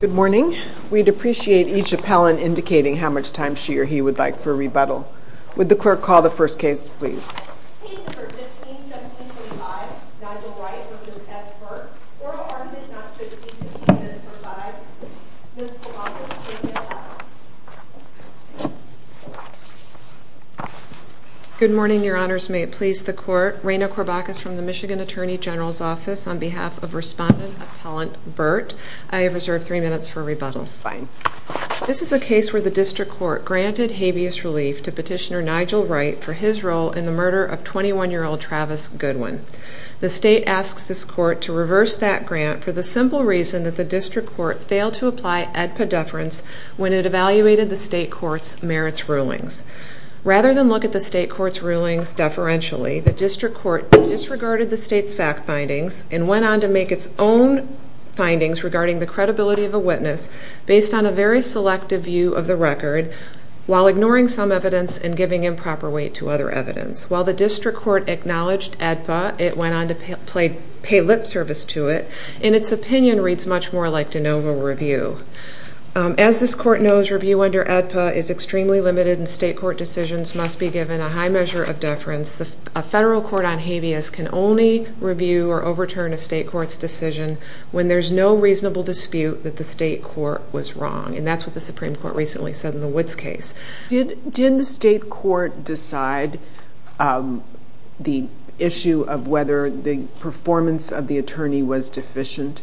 Good morning. We'd appreciate each appellant indicating how much time she or he would like for rebuttal. Would the clerk call the first case, please? Case number 15-1725, Nigel Wright v. S Burt, Oral Harm did not fit the 15 minutes for 5. Ms. Corbacus, please may I have the floor? Good morning, Your Honors. May it please the Court? Raina Corbacus from the Michigan Attorney General's Office on behalf of Respondent Appellant Burt. I have reserved 3 minutes for rebuttal. Fine. This is a case where the District Court granted habeas relief to Petitioner Nigel Wright for his role in the murder of 21-year-old Travis Goodwin. The State asks this Court to reverse that grant for the simple reason that the District Court failed to apply ADPA deference when it evaluated the State Court's merits rulings. Rather than look at the State Court's rulings deferentially, the District Court disregarded the State's fact findings and went on to make its own findings regarding the credibility of a witness based on a very selective view of the record while ignoring some evidence and giving improper weight to other evidence. While the District Court acknowledged ADPA, it went on to pay lip service to it, and its opinion reads much more like de novo review. As this Court knows, review under ADPA is extremely limited and State Court decisions must be given a high measure of deference. A federal court on habeas can only review or overturn a State Court's decision when there's no reasonable dispute that the State Court was wrong. And that's what the Supreme Court recently said in the Woods case. Did the State Court decide the issue of whether the performance of the attorney was deficient?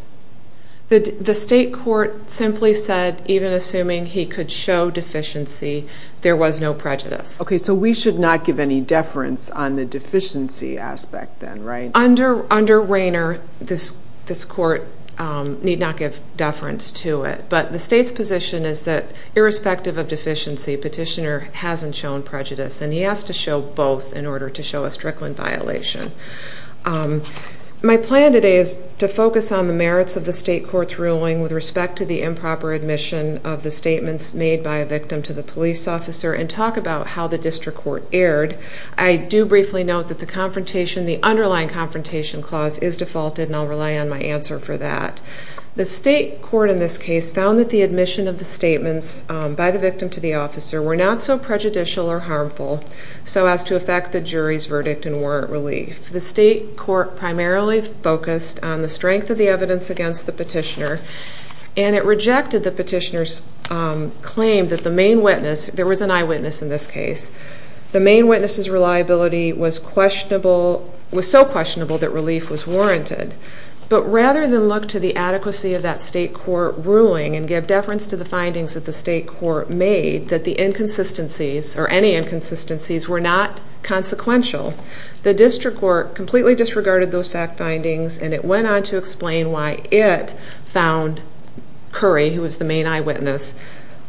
The State Court simply said, even assuming he could show deficiency, there was no prejudice. Okay, so we should not give any deference on the deficiency aspect then, right? Under Rainer, this Court need not give deference to it. But the State's position is that irrespective of deficiency, Petitioner hasn't shown prejudice, and he has to show both in order to show a Strickland violation. My plan today is to focus on the merits of the State Court's ruling with respect to the improper admission of the statements made by a victim to the police officer, and talk about how the District Court erred. I do briefly note that the underlying confrontation clause is defaulted, and I'll rely on my answer for that. The State Court in this case found that the admission of the statements by the victim to the officer were not so prejudicial or harmful so as to affect the jury's verdict and warrant relief. The State Court primarily focused on the strength of the evidence against the Petitioner, and it rejected the Petitioner's claim that the main witness, there was an eyewitness in this case, the main witness's reliability was so questionable that relief was warranted. But rather than look to the adequacy of that State Court ruling and give deference to the findings that the State Court made, that the inconsistencies, or any inconsistencies, were not consequential, the District Court completely disregarded those fact findings, and it went on to explain why it found Curry, who was the main eyewitness,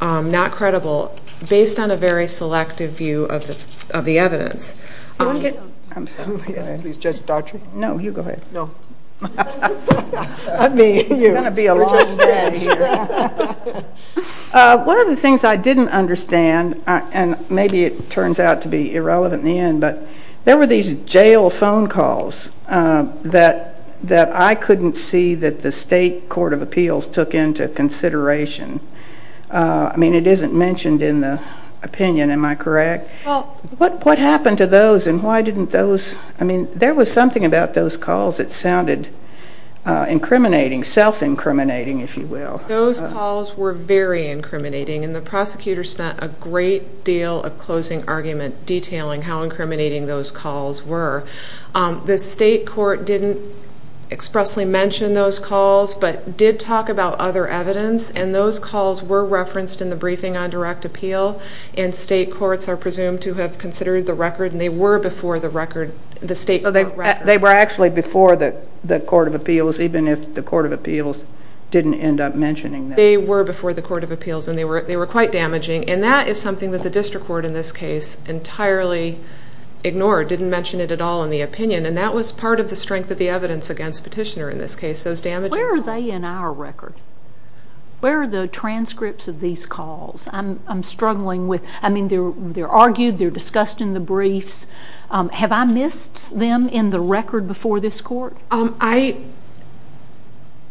not credible, based on a very selective view of the evidence. I'm sorry. Please, Judge Daughtry. No, you go ahead. No. I mean, you're going to be a long day here. One of the things I didn't understand, and maybe it turns out to be irrelevant in the end, but there were these jail phone calls that I couldn't see that the State Court of Appeals took into consideration. I mean, it isn't mentioned in the opinion, am I correct? Well. What happened to those, and why didn't those, I mean, there was something about those calls that sounded incriminating, self-incriminating, if you will. Those calls were very incriminating, and the prosecutor spent a great deal of closing argument detailing how incriminating those calls were. The State Court didn't expressly mention those calls, but did talk about other evidence, and those calls were referenced in the briefing on direct appeal, and State courts are presumed to have considered the record, and they were before the record, the State Court record. They were actually before the Court of Appeals, even if the Court of Appeals didn't end up mentioning them. They were before the Court of Appeals, and they were quite damaging, and that is something that the district court in this case entirely ignored, didn't mention it at all in the opinion, and that was part of the strength of the evidence against Petitioner in this case, those damaging calls. Where are they in our record? Where are the transcripts of these calls? I'm struggling with, I mean, they're argued, they're discussed in the briefs. Have I missed them in the record before this court? I'm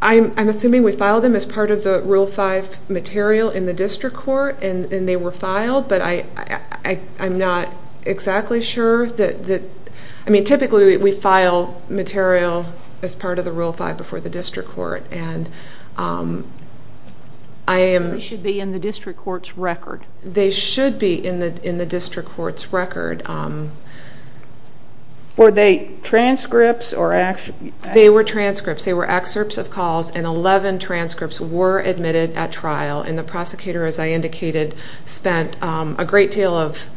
assuming we filed them as part of the Rule 5 material in the district court, and they were filed, but I'm not exactly sure. I mean, typically we file material as part of the Rule 5 before the district court, and I am... They should be in the district court's record. They should be in the district court's record. Were they transcripts or... They were transcripts. They were excerpts of calls, and 11 transcripts were admitted at trial, and the prosecutor, as I indicated, spent a great deal of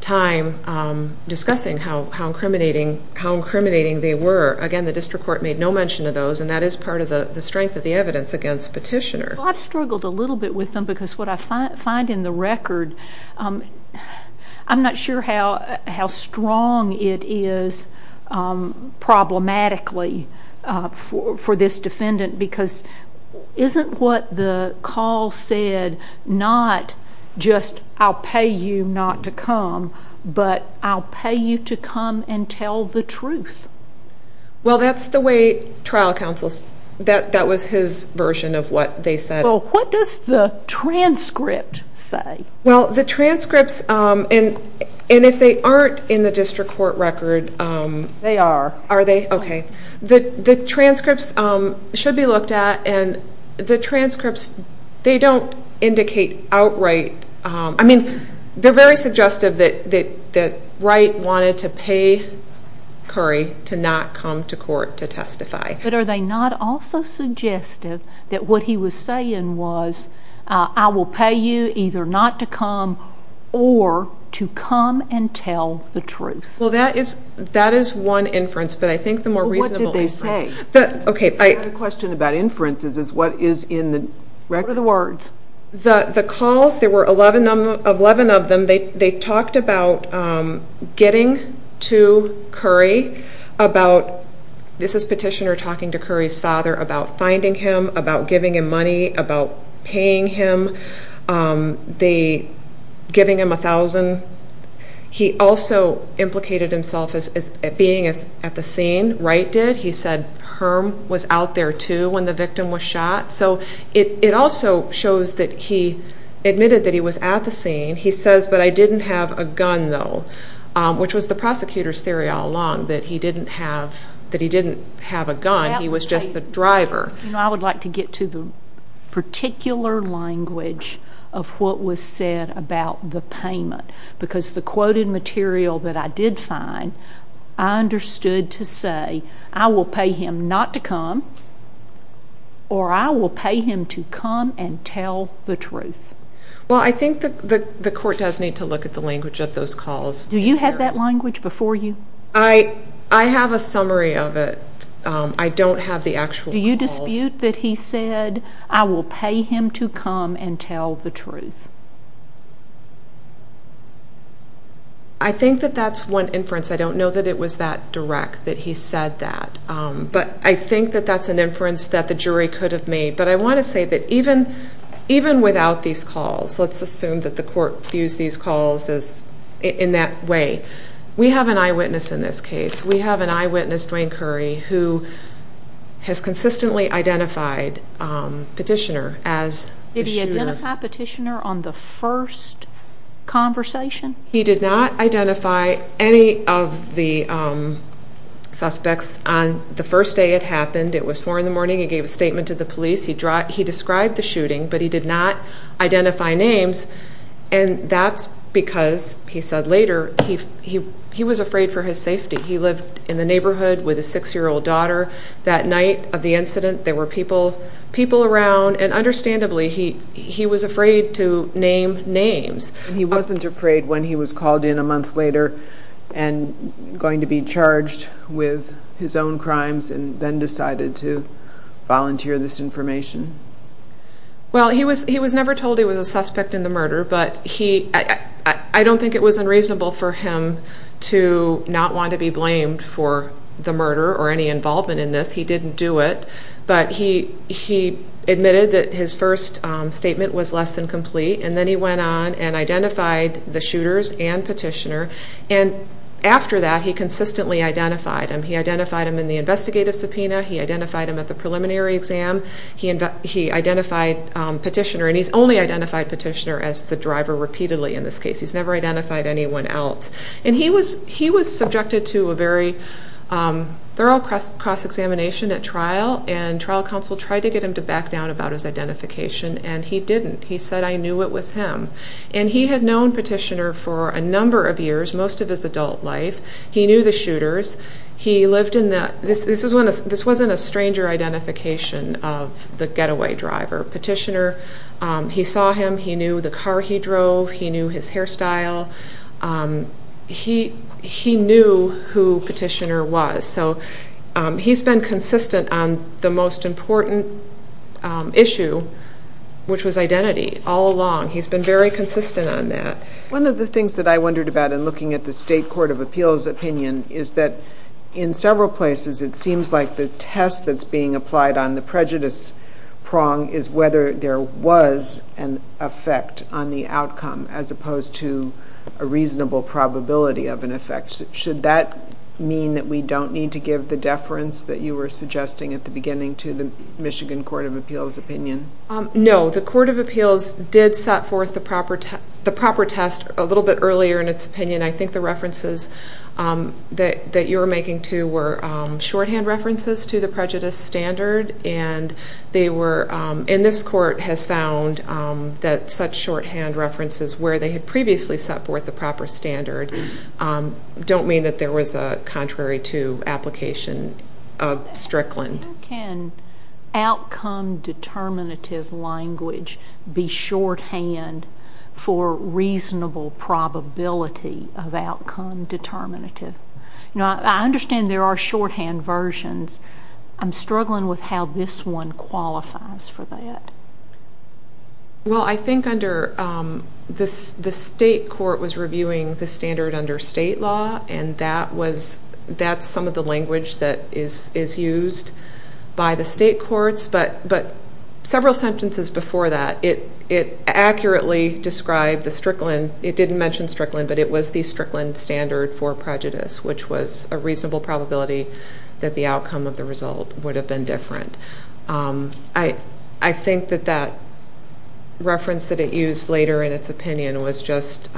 time discussing how incriminating they were. Again, the district court made no mention of those, and that is part of the strength of the evidence against Petitioner. Well, I've struggled a little bit with them because what I find in the record, I'm not sure how strong it is problematically for this defendant because isn't what the call said not just, I'll pay you not to come, but I'll pay you to come and tell the truth? Well, that's the way trial counsels... That was his version of what they said. Well, what does the transcript say? Well, the transcripts, and if they aren't in the district court record... They are. Are they? Okay. The transcripts should be looked at, and the transcripts, they don't indicate outright... I mean, they're very suggestive that Wright wanted to pay Curry to not come to court to testify. But are they not also suggestive that what he was saying was, I will pay you either not to come or to come and tell the truth? Well, that is one inference, but I think the more reasonable inference... Well, what did they say? Okay. I had a question about inferences, is what is in the record? What are the words? The calls, there were 11 of them. They talked about getting to Curry, about, this is Petitioner talking to Curry's father, about finding him, about giving him money, about paying him, giving him $1,000. He also implicated himself as being at the scene, Wright did. He said Herm was out there too when the victim was shot. So it also shows that he admitted that he was at the scene. He says, but I didn't have a gun though, which was the prosecutor's theory all along, that he didn't have a gun, he was just the driver. I would like to get to the particular language of what was said about the payment, because the quoted material that I did find, I understood to say, I will pay him not to come, or I will pay him to come and tell the truth. Well, I think the court does need to look at the language of those calls. Do you have that language before you? I have a summary of it. I don't have the actual calls. Do you dispute that he said, I will pay him to come and tell the truth? I think that that's one inference. I don't know that it was that direct that he said that. But I think that that's an inference that the jury could have made. But I want to say that even without these calls, let's assume that the court views these calls in that way, we have an eyewitness in this case. We have an eyewitness, Dwayne Curry, who has consistently identified Petitioner as the shooter. Was Petitioner on the first conversation? He did not identify any of the suspects on the first day it happened. It was 4 in the morning. He gave a statement to the police. He described the shooting, but he did not identify names, and that's because, he said later, he was afraid for his safety. He lived in the neighborhood with his 6-year-old daughter. That night of the incident, there were people around, and understandably, he was afraid to name names. He wasn't afraid when he was called in a month later and going to be charged with his own crimes and then decided to volunteer this information? Well, he was never told he was a suspect in the murder, but I don't think it was unreasonable for him to not want to be blamed for the murder or any involvement in this. He didn't do it, but he admitted that his first statement was less than complete, and then he went on and identified the shooters and Petitioner, and after that, he consistently identified them. He identified them in the investigative subpoena. He identified them at the preliminary exam. He identified Petitioner, and he's only identified Petitioner as the driver repeatedly in this case. He's never identified anyone else. And he was subjected to a very thorough cross-examination at trial, and trial counsel tried to get him to back down about his identification, and he didn't. He said, I knew it was him. And he had known Petitioner for a number of years, most of his adult life. He knew the shooters. This wasn't a stranger identification of the getaway driver. Petitioner, he saw him. He knew the car he drove. He knew his hairstyle. He knew who Petitioner was. So he's been consistent on the most important issue, which was identity, all along. He's been very consistent on that. One of the things that I wondered about in looking at the State Court of Appeals opinion is that in several places it seems like the test that's being applied on the prejudice prong is whether there was an effect on the outcome, as opposed to a reasonable probability of an effect. Should that mean that we don't need to give the deference that you were suggesting at the beginning to the Michigan Court of Appeals opinion? No. The Court of Appeals did set forth the proper test a little bit earlier in its opinion. I think the references that you were making, too, were shorthand references to the prejudice standard, and this court has found that such shorthand references where they had previously set forth the proper standard don't mean that there was a contrary to application of Strickland. Can outcome determinative language be shorthand for reasonable probability of outcome determinative? I understand there are shorthand versions. I'm struggling with how this one qualifies for that. Well, I think the state court was reviewing the standard under state law, and that's some of the language that is used by the state courts. But several sentences before that, it accurately described the Strickland. It didn't mention Strickland, but it was the Strickland standard for prejudice, which was a reasonable probability that the outcome of the result would have been different. I think that that reference that it used later in its opinion was just,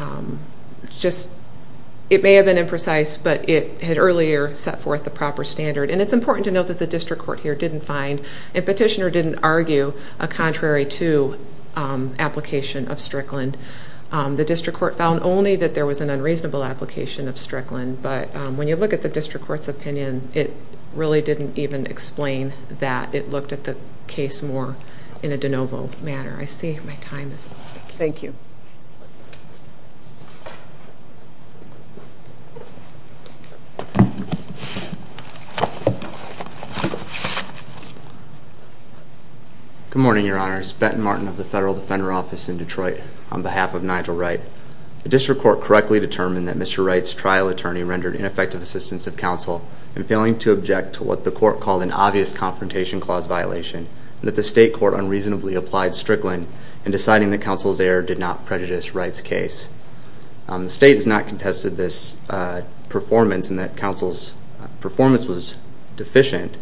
it may have been imprecise, but it had earlier set forth the proper standard. And it's important to note that the district court here didn't find and petitioner didn't argue a contrary to application of Strickland. The district court found only that there was an unreasonable application of Strickland. But when you look at the district court's opinion, it really didn't even explain that. It looked at the case more in a de novo manner. I see my time is up. Thank you. Good morning, Your Honors. I'm Bruce Benton-Martin of the Federal Defender Office in Detroit on behalf of Nigel Wright. The district court correctly determined that Mr. Wright's trial attorney rendered ineffective assistance of counsel in failing to object to what the court called an obvious confrontation clause violation, and that the state court unreasonably applied Strickland in deciding that counsel's error did not prejudice Wright's case. The state has not contested this performance and that counsel's performance was deficient.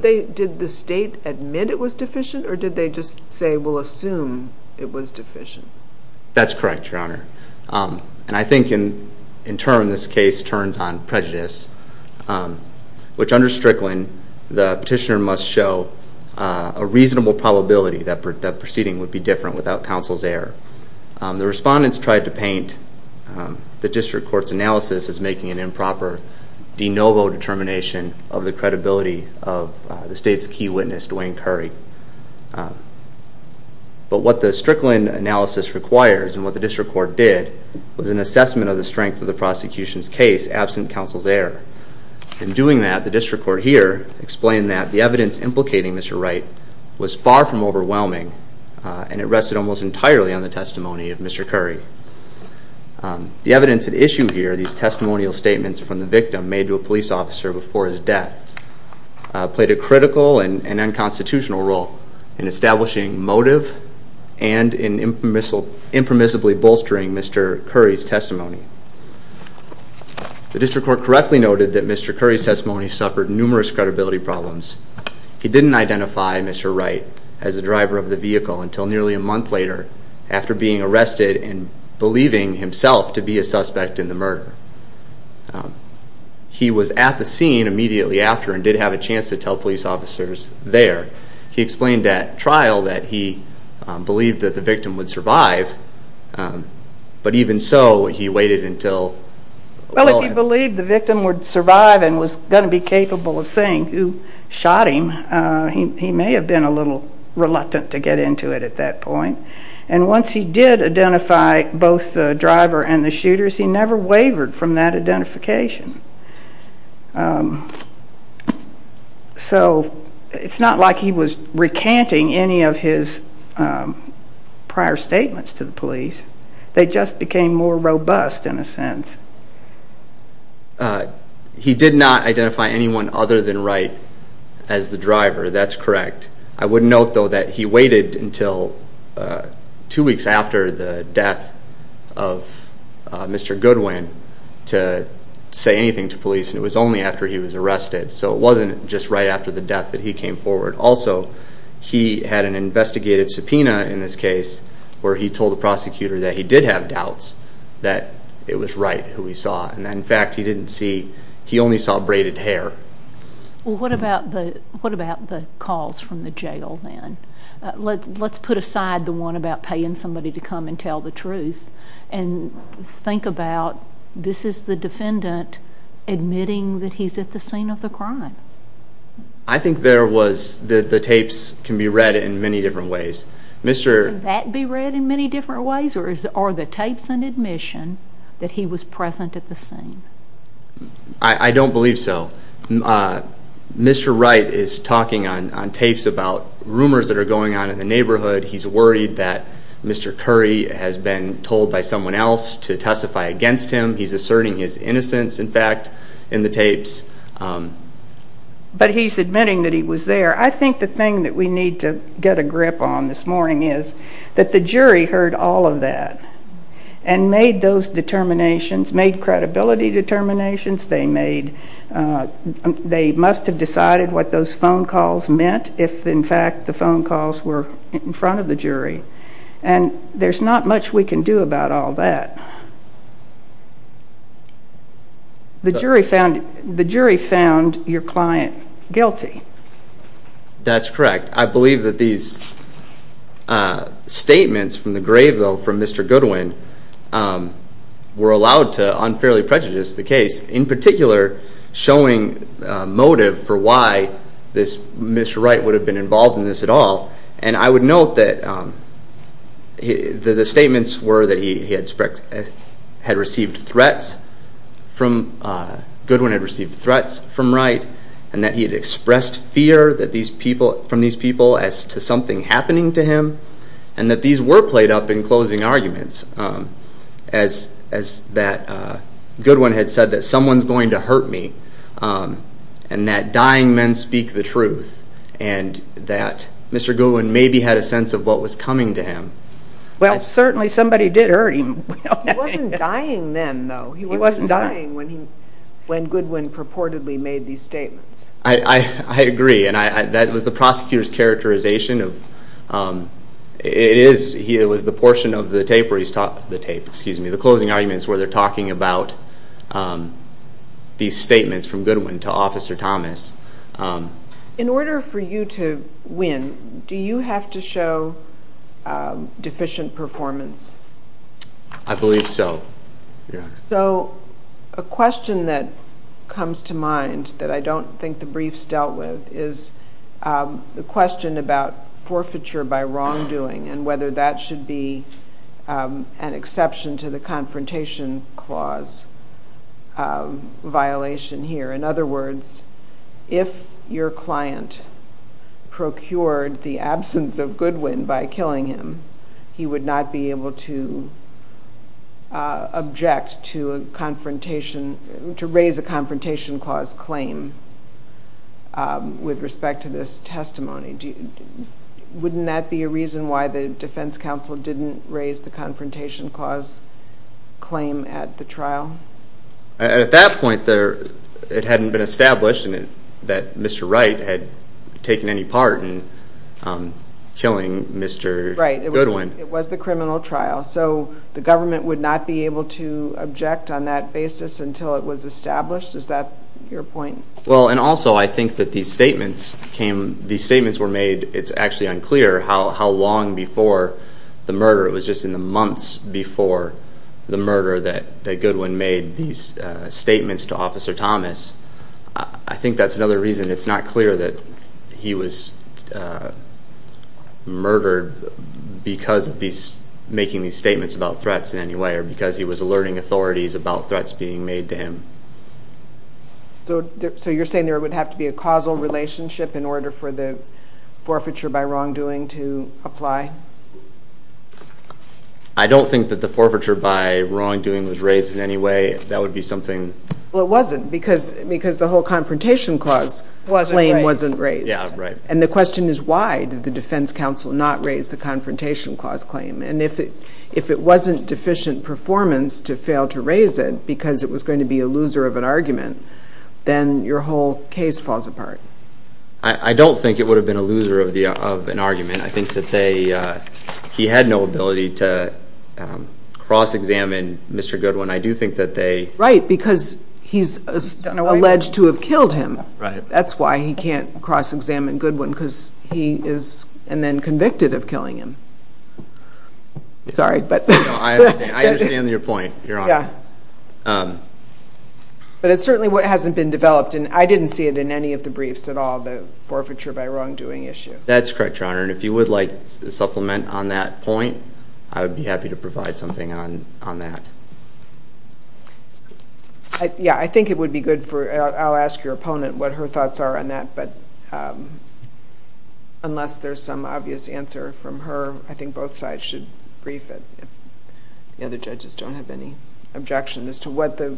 Did the state admit it was deficient or did they just say we'll assume it was deficient? That's correct, Your Honor. And I think in turn this case turns on prejudice, which under Strickland the petitioner must show a reasonable probability that the proceeding would be different without counsel's error. The respondents tried to paint the district court's analysis as making an improper de novo determination of the credibility of the state's key witness, Duane Curry. But what the Strickland analysis requires and what the district court did was an assessment of the strength of the prosecution's case absent counsel's error. In doing that, the district court here explained that the evidence implicating Mr. Wright was far from overwhelming and it rested almost entirely on the testimony of Mr. Curry. The evidence at issue here, these testimonial statements from the victim made to a police officer before his death, played a critical and unconstitutional role in establishing motive and in impermissibly bolstering Mr. Curry's testimony. The district court correctly noted that Mr. Curry's testimony suffered numerous credibility problems. He didn't identify Mr. Wright as the driver of the vehicle until nearly a month later after being arrested and believing himself to be a suspect in the murder. He was at the scene immediately after and did have a chance to tell police officers there. He explained at trial that he believed that the victim would survive, but even so, he waited until... Well, if he believed the victim would survive and was going to be capable of saying who shot him, he may have been a little reluctant to get into it at that point. And once he did identify both the driver and the shooters, he never wavered from that identification. So it's not like he was recanting any of his prior statements to the police. They just became more robust in a sense. He did not identify anyone other than Wright as the driver. That's correct. I would note, though, that he waited until two weeks after the death of Mr. Goodwin to say anything to police, and it was only after he was arrested. So it wasn't just right after the death that he came forward. Also, he had an investigative subpoena in this case where he told the prosecutor that he did have doubts that it was Wright. In fact, he only saw braided hair. Well, what about the calls from the jail then? Let's put aside the one about paying somebody to come and tell the truth and think about this is the defendant admitting that he's at the scene of the crime. I think the tapes can be read in many different ways. Can that be read in many different ways, or are the tapes an admission that he was present at the scene? I don't believe so. Mr. Wright is talking on tapes about rumors that are going on in the neighborhood. He's worried that Mr. Curry has been told by someone else to testify against him. He's asserting his innocence, in fact, in the tapes. But he's admitting that he was there. I think the thing that we need to get a grip on this morning is that the jury heard all of that and made those determinations, made credibility determinations. They must have decided what those phone calls meant if, in fact, the phone calls were in front of the jury. And there's not much we can do about all that. The jury found your client guilty. That's correct. I believe that these statements from the grave, though, from Mr. Goodwin were allowed to unfairly prejudice the case, in particular showing motive for why Mr. Wright would have been involved in this at all. And I would note that the statements were that Goodwin had received threats from Wright and that he had expressed fear from these people as to something happening to him and that these were played up in closing arguments, as that Goodwin had said that someone's going to hurt me and that dying men speak the truth and that Mr. Goodwin maybe had a sense of what was coming to him. Well, certainly somebody did hurt him. He wasn't dying then, though. He wasn't dying when Goodwin purportedly made these statements. I agree, and that was the prosecutor's characterization. It was the portion of the tape where he stopped the tape, excuse me, the closing arguments where they're talking about these statements from Goodwin to Officer Thomas. In order for you to win, do you have to show deficient performance? I believe so. So a question that comes to mind that I don't think the briefs dealt with is the question about forfeiture by wrongdoing and whether that should be an exception to the Confrontation Clause violation here. In other words, if your client procured the absence of Goodwin by killing him, he would not be able to object to raise a Confrontation Clause claim with respect to this testimony. Wouldn't that be a reason why the Defense Counsel didn't raise the Confrontation Clause claim at the trial? At that point, it hadn't been established that Mr. Wright had taken any part in killing Mr. Goodwin. Right, it was the criminal trial. So the government would not be able to object on that basis until it was established? Is that your point? Well, and also I think that these statements were made, it's actually unclear how long before the murder. It was just in the months before the murder that Goodwin made these statements to Officer Thomas. I think that's another reason it's not clear that he was murdered because of making these statements about threats in any way or because he was alerting authorities about threats being made to him. So you're saying there would have to be a causal relationship in order for the forfeiture by wrongdoing to apply? I don't think that the forfeiture by wrongdoing was raised in any way. That would be something. Well, it wasn't because the whole Confrontation Clause claim wasn't raised. Yeah, right. And the question is why did the Defense Counsel not raise the Confrontation Clause claim? And if it wasn't deficient performance to fail to raise it because it was going to be a loser of an argument, then your whole case falls apart. I don't think it would have been a loser of an argument. I think that he had no ability to cross-examine Mr. Goodwin. I do think that they— Right, because he's alleged to have killed him. Right. That's why he can't cross-examine Goodwin because he is then convicted of killing him. Sorry, but— I understand your point, Your Honor. But it certainly hasn't been developed, and I didn't see it in any of the briefs at all, the forfeiture by wrongdoing issue. That's correct, Your Honor, and if you would like a supplement on that point, I would be happy to provide something on that. Yeah, I think it would be good for—I'll ask your opponent what her thoughts are on that, but unless there's some obvious answer from her, I think both sides should brief it if the other judges don't have any objection as to what the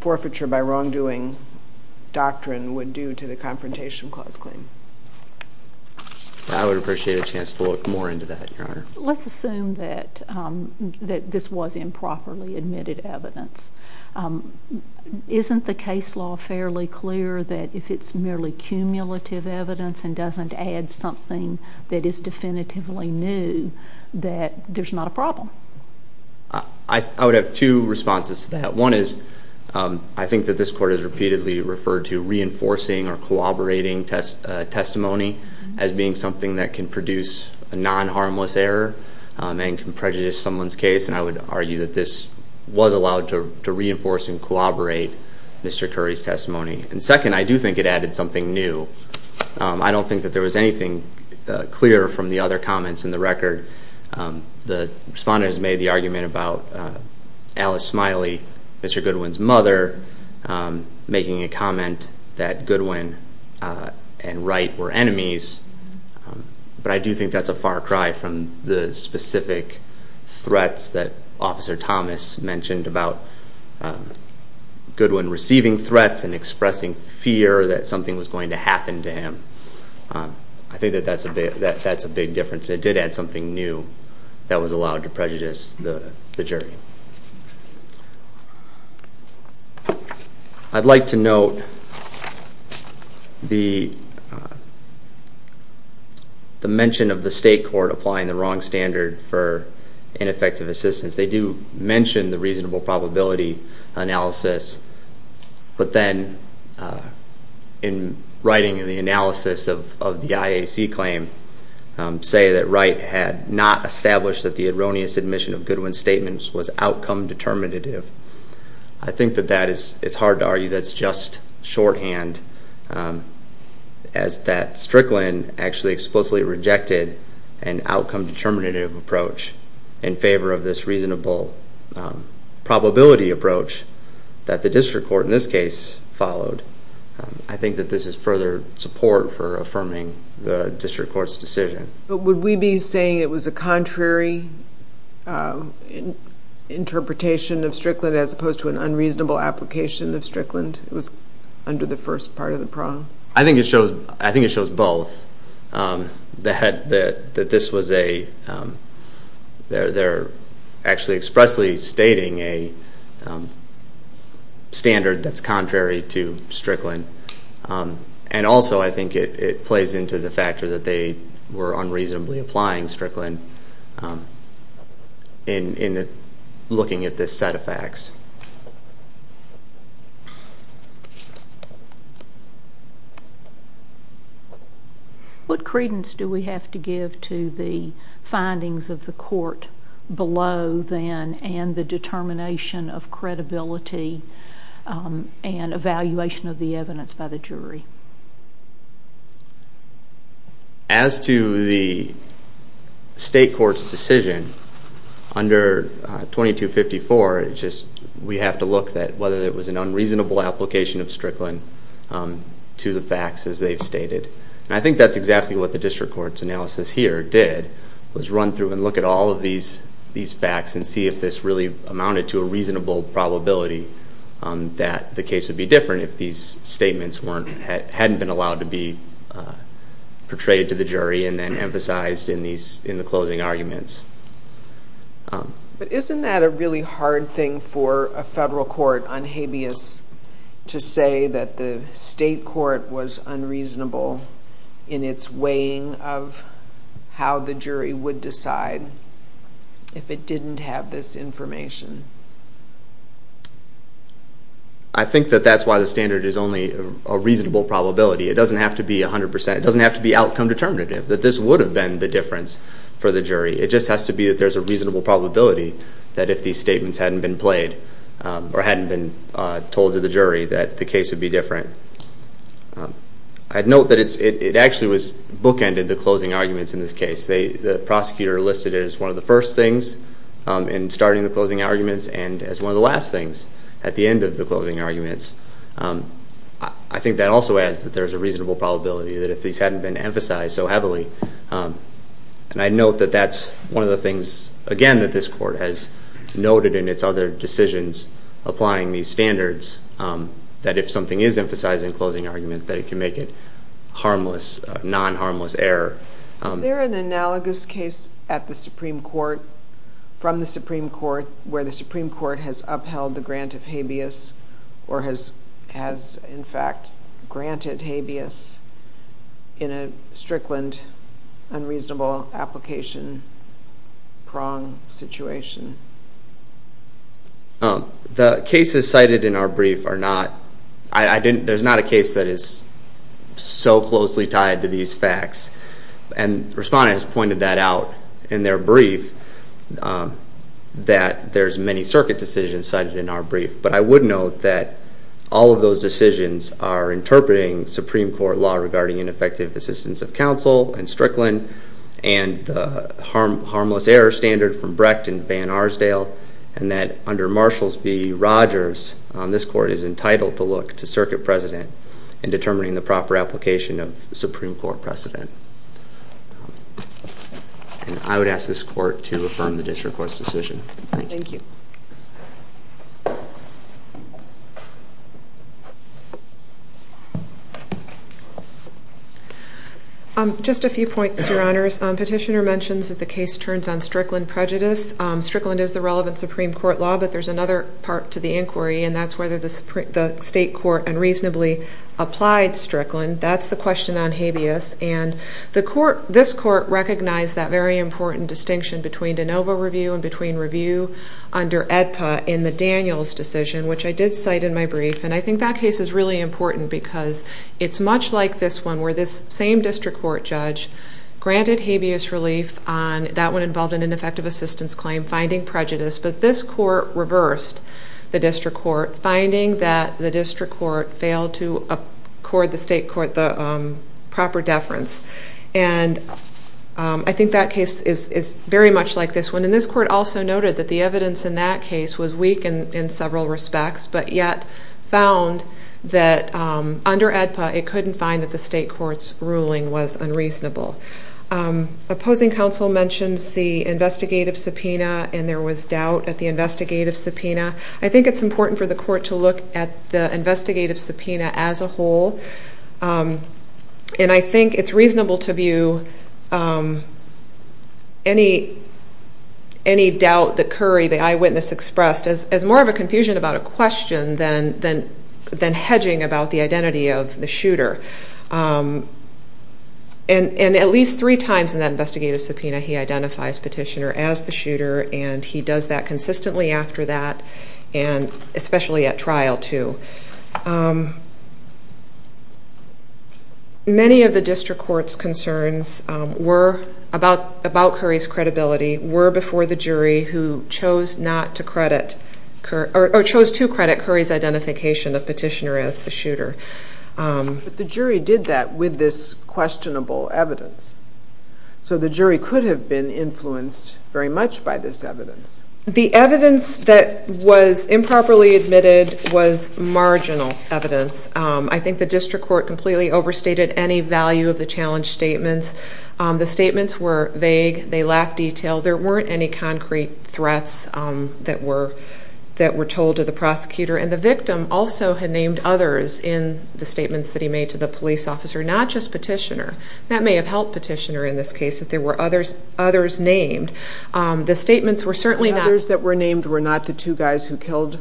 forfeiture by wrongdoing doctrine would do to the Confrontation Clause claim. I would appreciate a chance to look more into that, Your Honor. Let's assume that this was improperly admitted evidence. Isn't the case law fairly clear that if it's merely cumulative evidence and doesn't add something that is definitively new, that there's not a problem? I would have two responses to that. One is I think that this Court has repeatedly referred to reinforcing or corroborating testimony as being something that can produce a non-harmless error and can prejudice someone's case, and I would argue that this was allowed to reinforce and corroborate Mr. Curry's testimony. And second, I do think it added something new. I don't think that there was anything clear from the other comments in the record. The Respondent has made the argument about Alice Smiley, Mr. Goodwin's mother, making a comment that Goodwin and Wright were enemies, but I do think that's a far cry from the specific threats that Officer Thomas mentioned about Goodwin receiving threats and expressing fear that something was going to happen to him. I think that that's a big difference, and it did add something new that was allowed to prejudice the jury. I'd like to note the mention of the State Court applying the wrong standard for ineffective assistance. They do mention the reasonable probability analysis, but then in writing in the analysis of the IAC claim, say that Wright had not established that the erroneous admission of Goodwin's statements was outcome determinative. I think that it's hard to argue that's just shorthand, as that Strickland actually explicitly rejected an outcome determinative approach in favor of this reasonable probability approach that the District Court in this case followed. I think that this is further support for affirming the District Court's decision. But would we be saying it was a contrary interpretation of Strickland as opposed to an unreasonable application of Strickland? It was under the first part of the prong. I think it shows both. That this was a... They're actually expressly stating a standard that's contrary to Strickland. And also I think it plays into the fact that they were unreasonably applying Strickland in looking at this set of facts. What credence do we have to give to the findings of the court below then and the determination of credibility and evaluation of the evidence by the jury? As to the State Court's decision under 2254, we have to look at whether it was an unreasonable application of Strickland to the facts as they've stated. And I think that's exactly what the District Court's analysis here did, was run through and look at all of these facts and see if this really amounted to a reasonable probability that the case would be different if these statements hadn't been allowed to be portrayed to the jury and then emphasized in the closing arguments. But isn't that a really hard thing for a federal court on habeas to say that the State Court was unreasonable in its weighing of how the jury would decide if it didn't have this information? I think that that's why the standard is only a reasonable probability. It doesn't have to be 100%. It doesn't have to be outcome determinative. That this would have been the difference for the jury. It just has to be that there's a reasonable probability that if these statements hadn't been played or hadn't been told to the jury that the case would be different. I'd note that it actually bookended the closing arguments in this case. The prosecutor listed it as one of the first things in starting the closing arguments and as one of the last things at the end of the closing arguments. I think that also adds that there's a reasonable probability that if these hadn't been emphasized so heavily. And I'd note that that's one of the things, again, that this court has noted in its other decisions applying these standards, that if something is emphasized in closing argument that it can make it harmless, non-harmless error. Is there an analogous case at the Supreme Court, from the Supreme Court, where the Supreme Court has upheld the grant of habeas or has, in fact, granted habeas in a Strickland unreasonable application prong situation? The cases cited in our brief are not. There's not a case that is so closely tied to these facts. And the respondent has pointed that out in their brief, that there's many circuit decisions cited in our brief. But I would note that all of those decisions are interpreting Supreme Court law regarding ineffective assistance of counsel in Strickland and the harmless error standard from Brecht and Van Arsdale and that under Marshall v. Rogers, this court is entitled to look to Circuit President in determining the proper application of Supreme Court precedent. And I would ask this court to affirm the district court's decision. Thank you. Just a few points, Your Honors. Petitioner mentions that the case turns on Strickland prejudice. Strickland is the relevant Supreme Court law, but there's another part to the inquiry, and that's whether the state court unreasonably applied Strickland. That's the question on habeas. And this court recognized that very important distinction between de novo review and between review under AEDPA in the Daniels decision, which I did cite in my brief. And I think that case is really important because it's much like this one where this same district court judge granted habeas relief on that one involved in an ineffective assistance claim, finding prejudice. But this court reversed the district court, finding that the district court failed to accord the state court the proper deference. And I think that case is very much like this one. And this court also noted that the evidence in that case was weak in several respects, but yet found that under AEDPA it couldn't find that the state court's ruling was unreasonable. Opposing counsel mentions the investigative subpoena, and there was doubt at the investigative subpoena. I think it's important for the court to look at the investigative subpoena as a whole. And I think it's reasonable to view any doubt that Curry, the eyewitness, expressed as more of a confusion about a question than hedging about the identity of the shooter. And at least three times in that investigative subpoena he identifies Petitioner as the shooter, and he does that consistently after that, and especially at trial too. Many of the district court's concerns about Curry's credibility were before the jury who chose to credit Curry's identification of Petitioner as the shooter. But the jury did that with this questionable evidence. So the jury could have been influenced very much by this evidence. The evidence that was improperly admitted was marginal evidence. I think the district court completely overstated any value of the challenge statements. The statements were vague. They lacked detail. There weren't any concrete threats that were told to the prosecutor. And the victim also had named others in the statements that he made to the police officer, not just Petitioner. That may have helped Petitioner in this case, that there were others named. The statements were certainly not... The others that were named were not the two guys who killed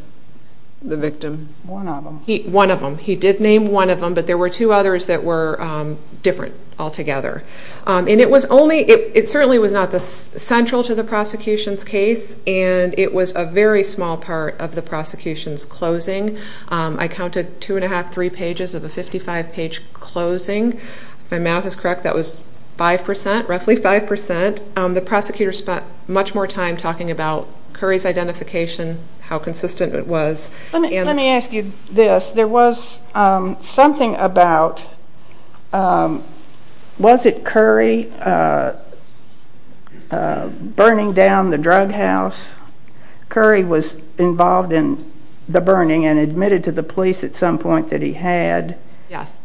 the victim? One of them. One of them. He did name one of them, but there were two others that were different altogether. And it certainly was not central to the prosecution's case, and it was a very small part of the prosecution's closing. I counted two and a half, three pages of a 55-page closing. If my math is correct, that was 5%, roughly 5%. The prosecutor spent much more time talking about Curry's identification, how consistent it was. Let me ask you this. There was something about... Was it Curry burning down the drug house? Curry was involved in the burning and admitted to the police at some point that he had. Yes.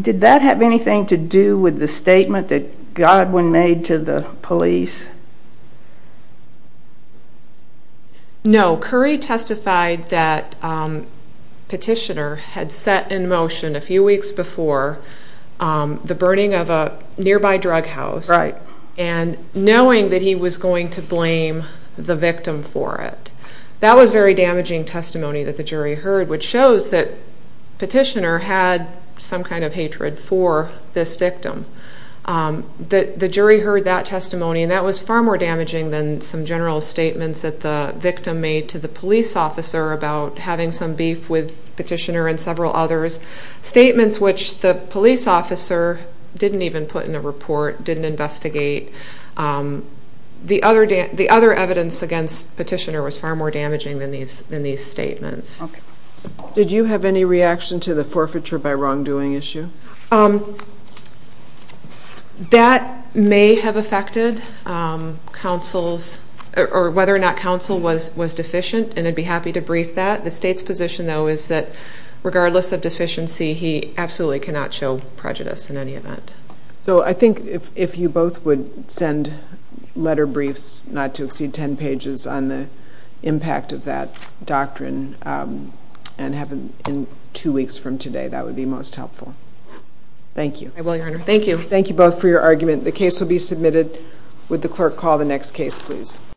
Did that have anything to do with the statement that Godwin made to the police? No. Curry testified that Petitioner had set in motion a few weeks before the burning of a nearby drug house and knowing that he was going to blame the victim for it. That was a very damaging testimony that the jury heard, which shows that Petitioner had some kind of hatred for this victim. The jury heard that testimony, and that was far more damaging than some general statements that the victim made to the police officer about having some beef with Petitioner and several others, statements which the police officer didn't even put in a report, didn't investigate. The other evidence against Petitioner was far more damaging than these statements. Did you have any reaction to the forfeiture by wrongdoing issue? That may have affected whether or not counsel was deficient, and I'd be happy to brief that. The state's position, though, is that regardless of deficiency, he absolutely cannot show prejudice in any event. So I think if you both would send letter briefs, not to exceed 10 pages, on the impact of that doctrine and have them in two weeks from today, that would be most helpful. Thank you. I will, Your Honor. Thank you. Thank you both for your argument. The case will be submitted. Would the clerk call the next case, please?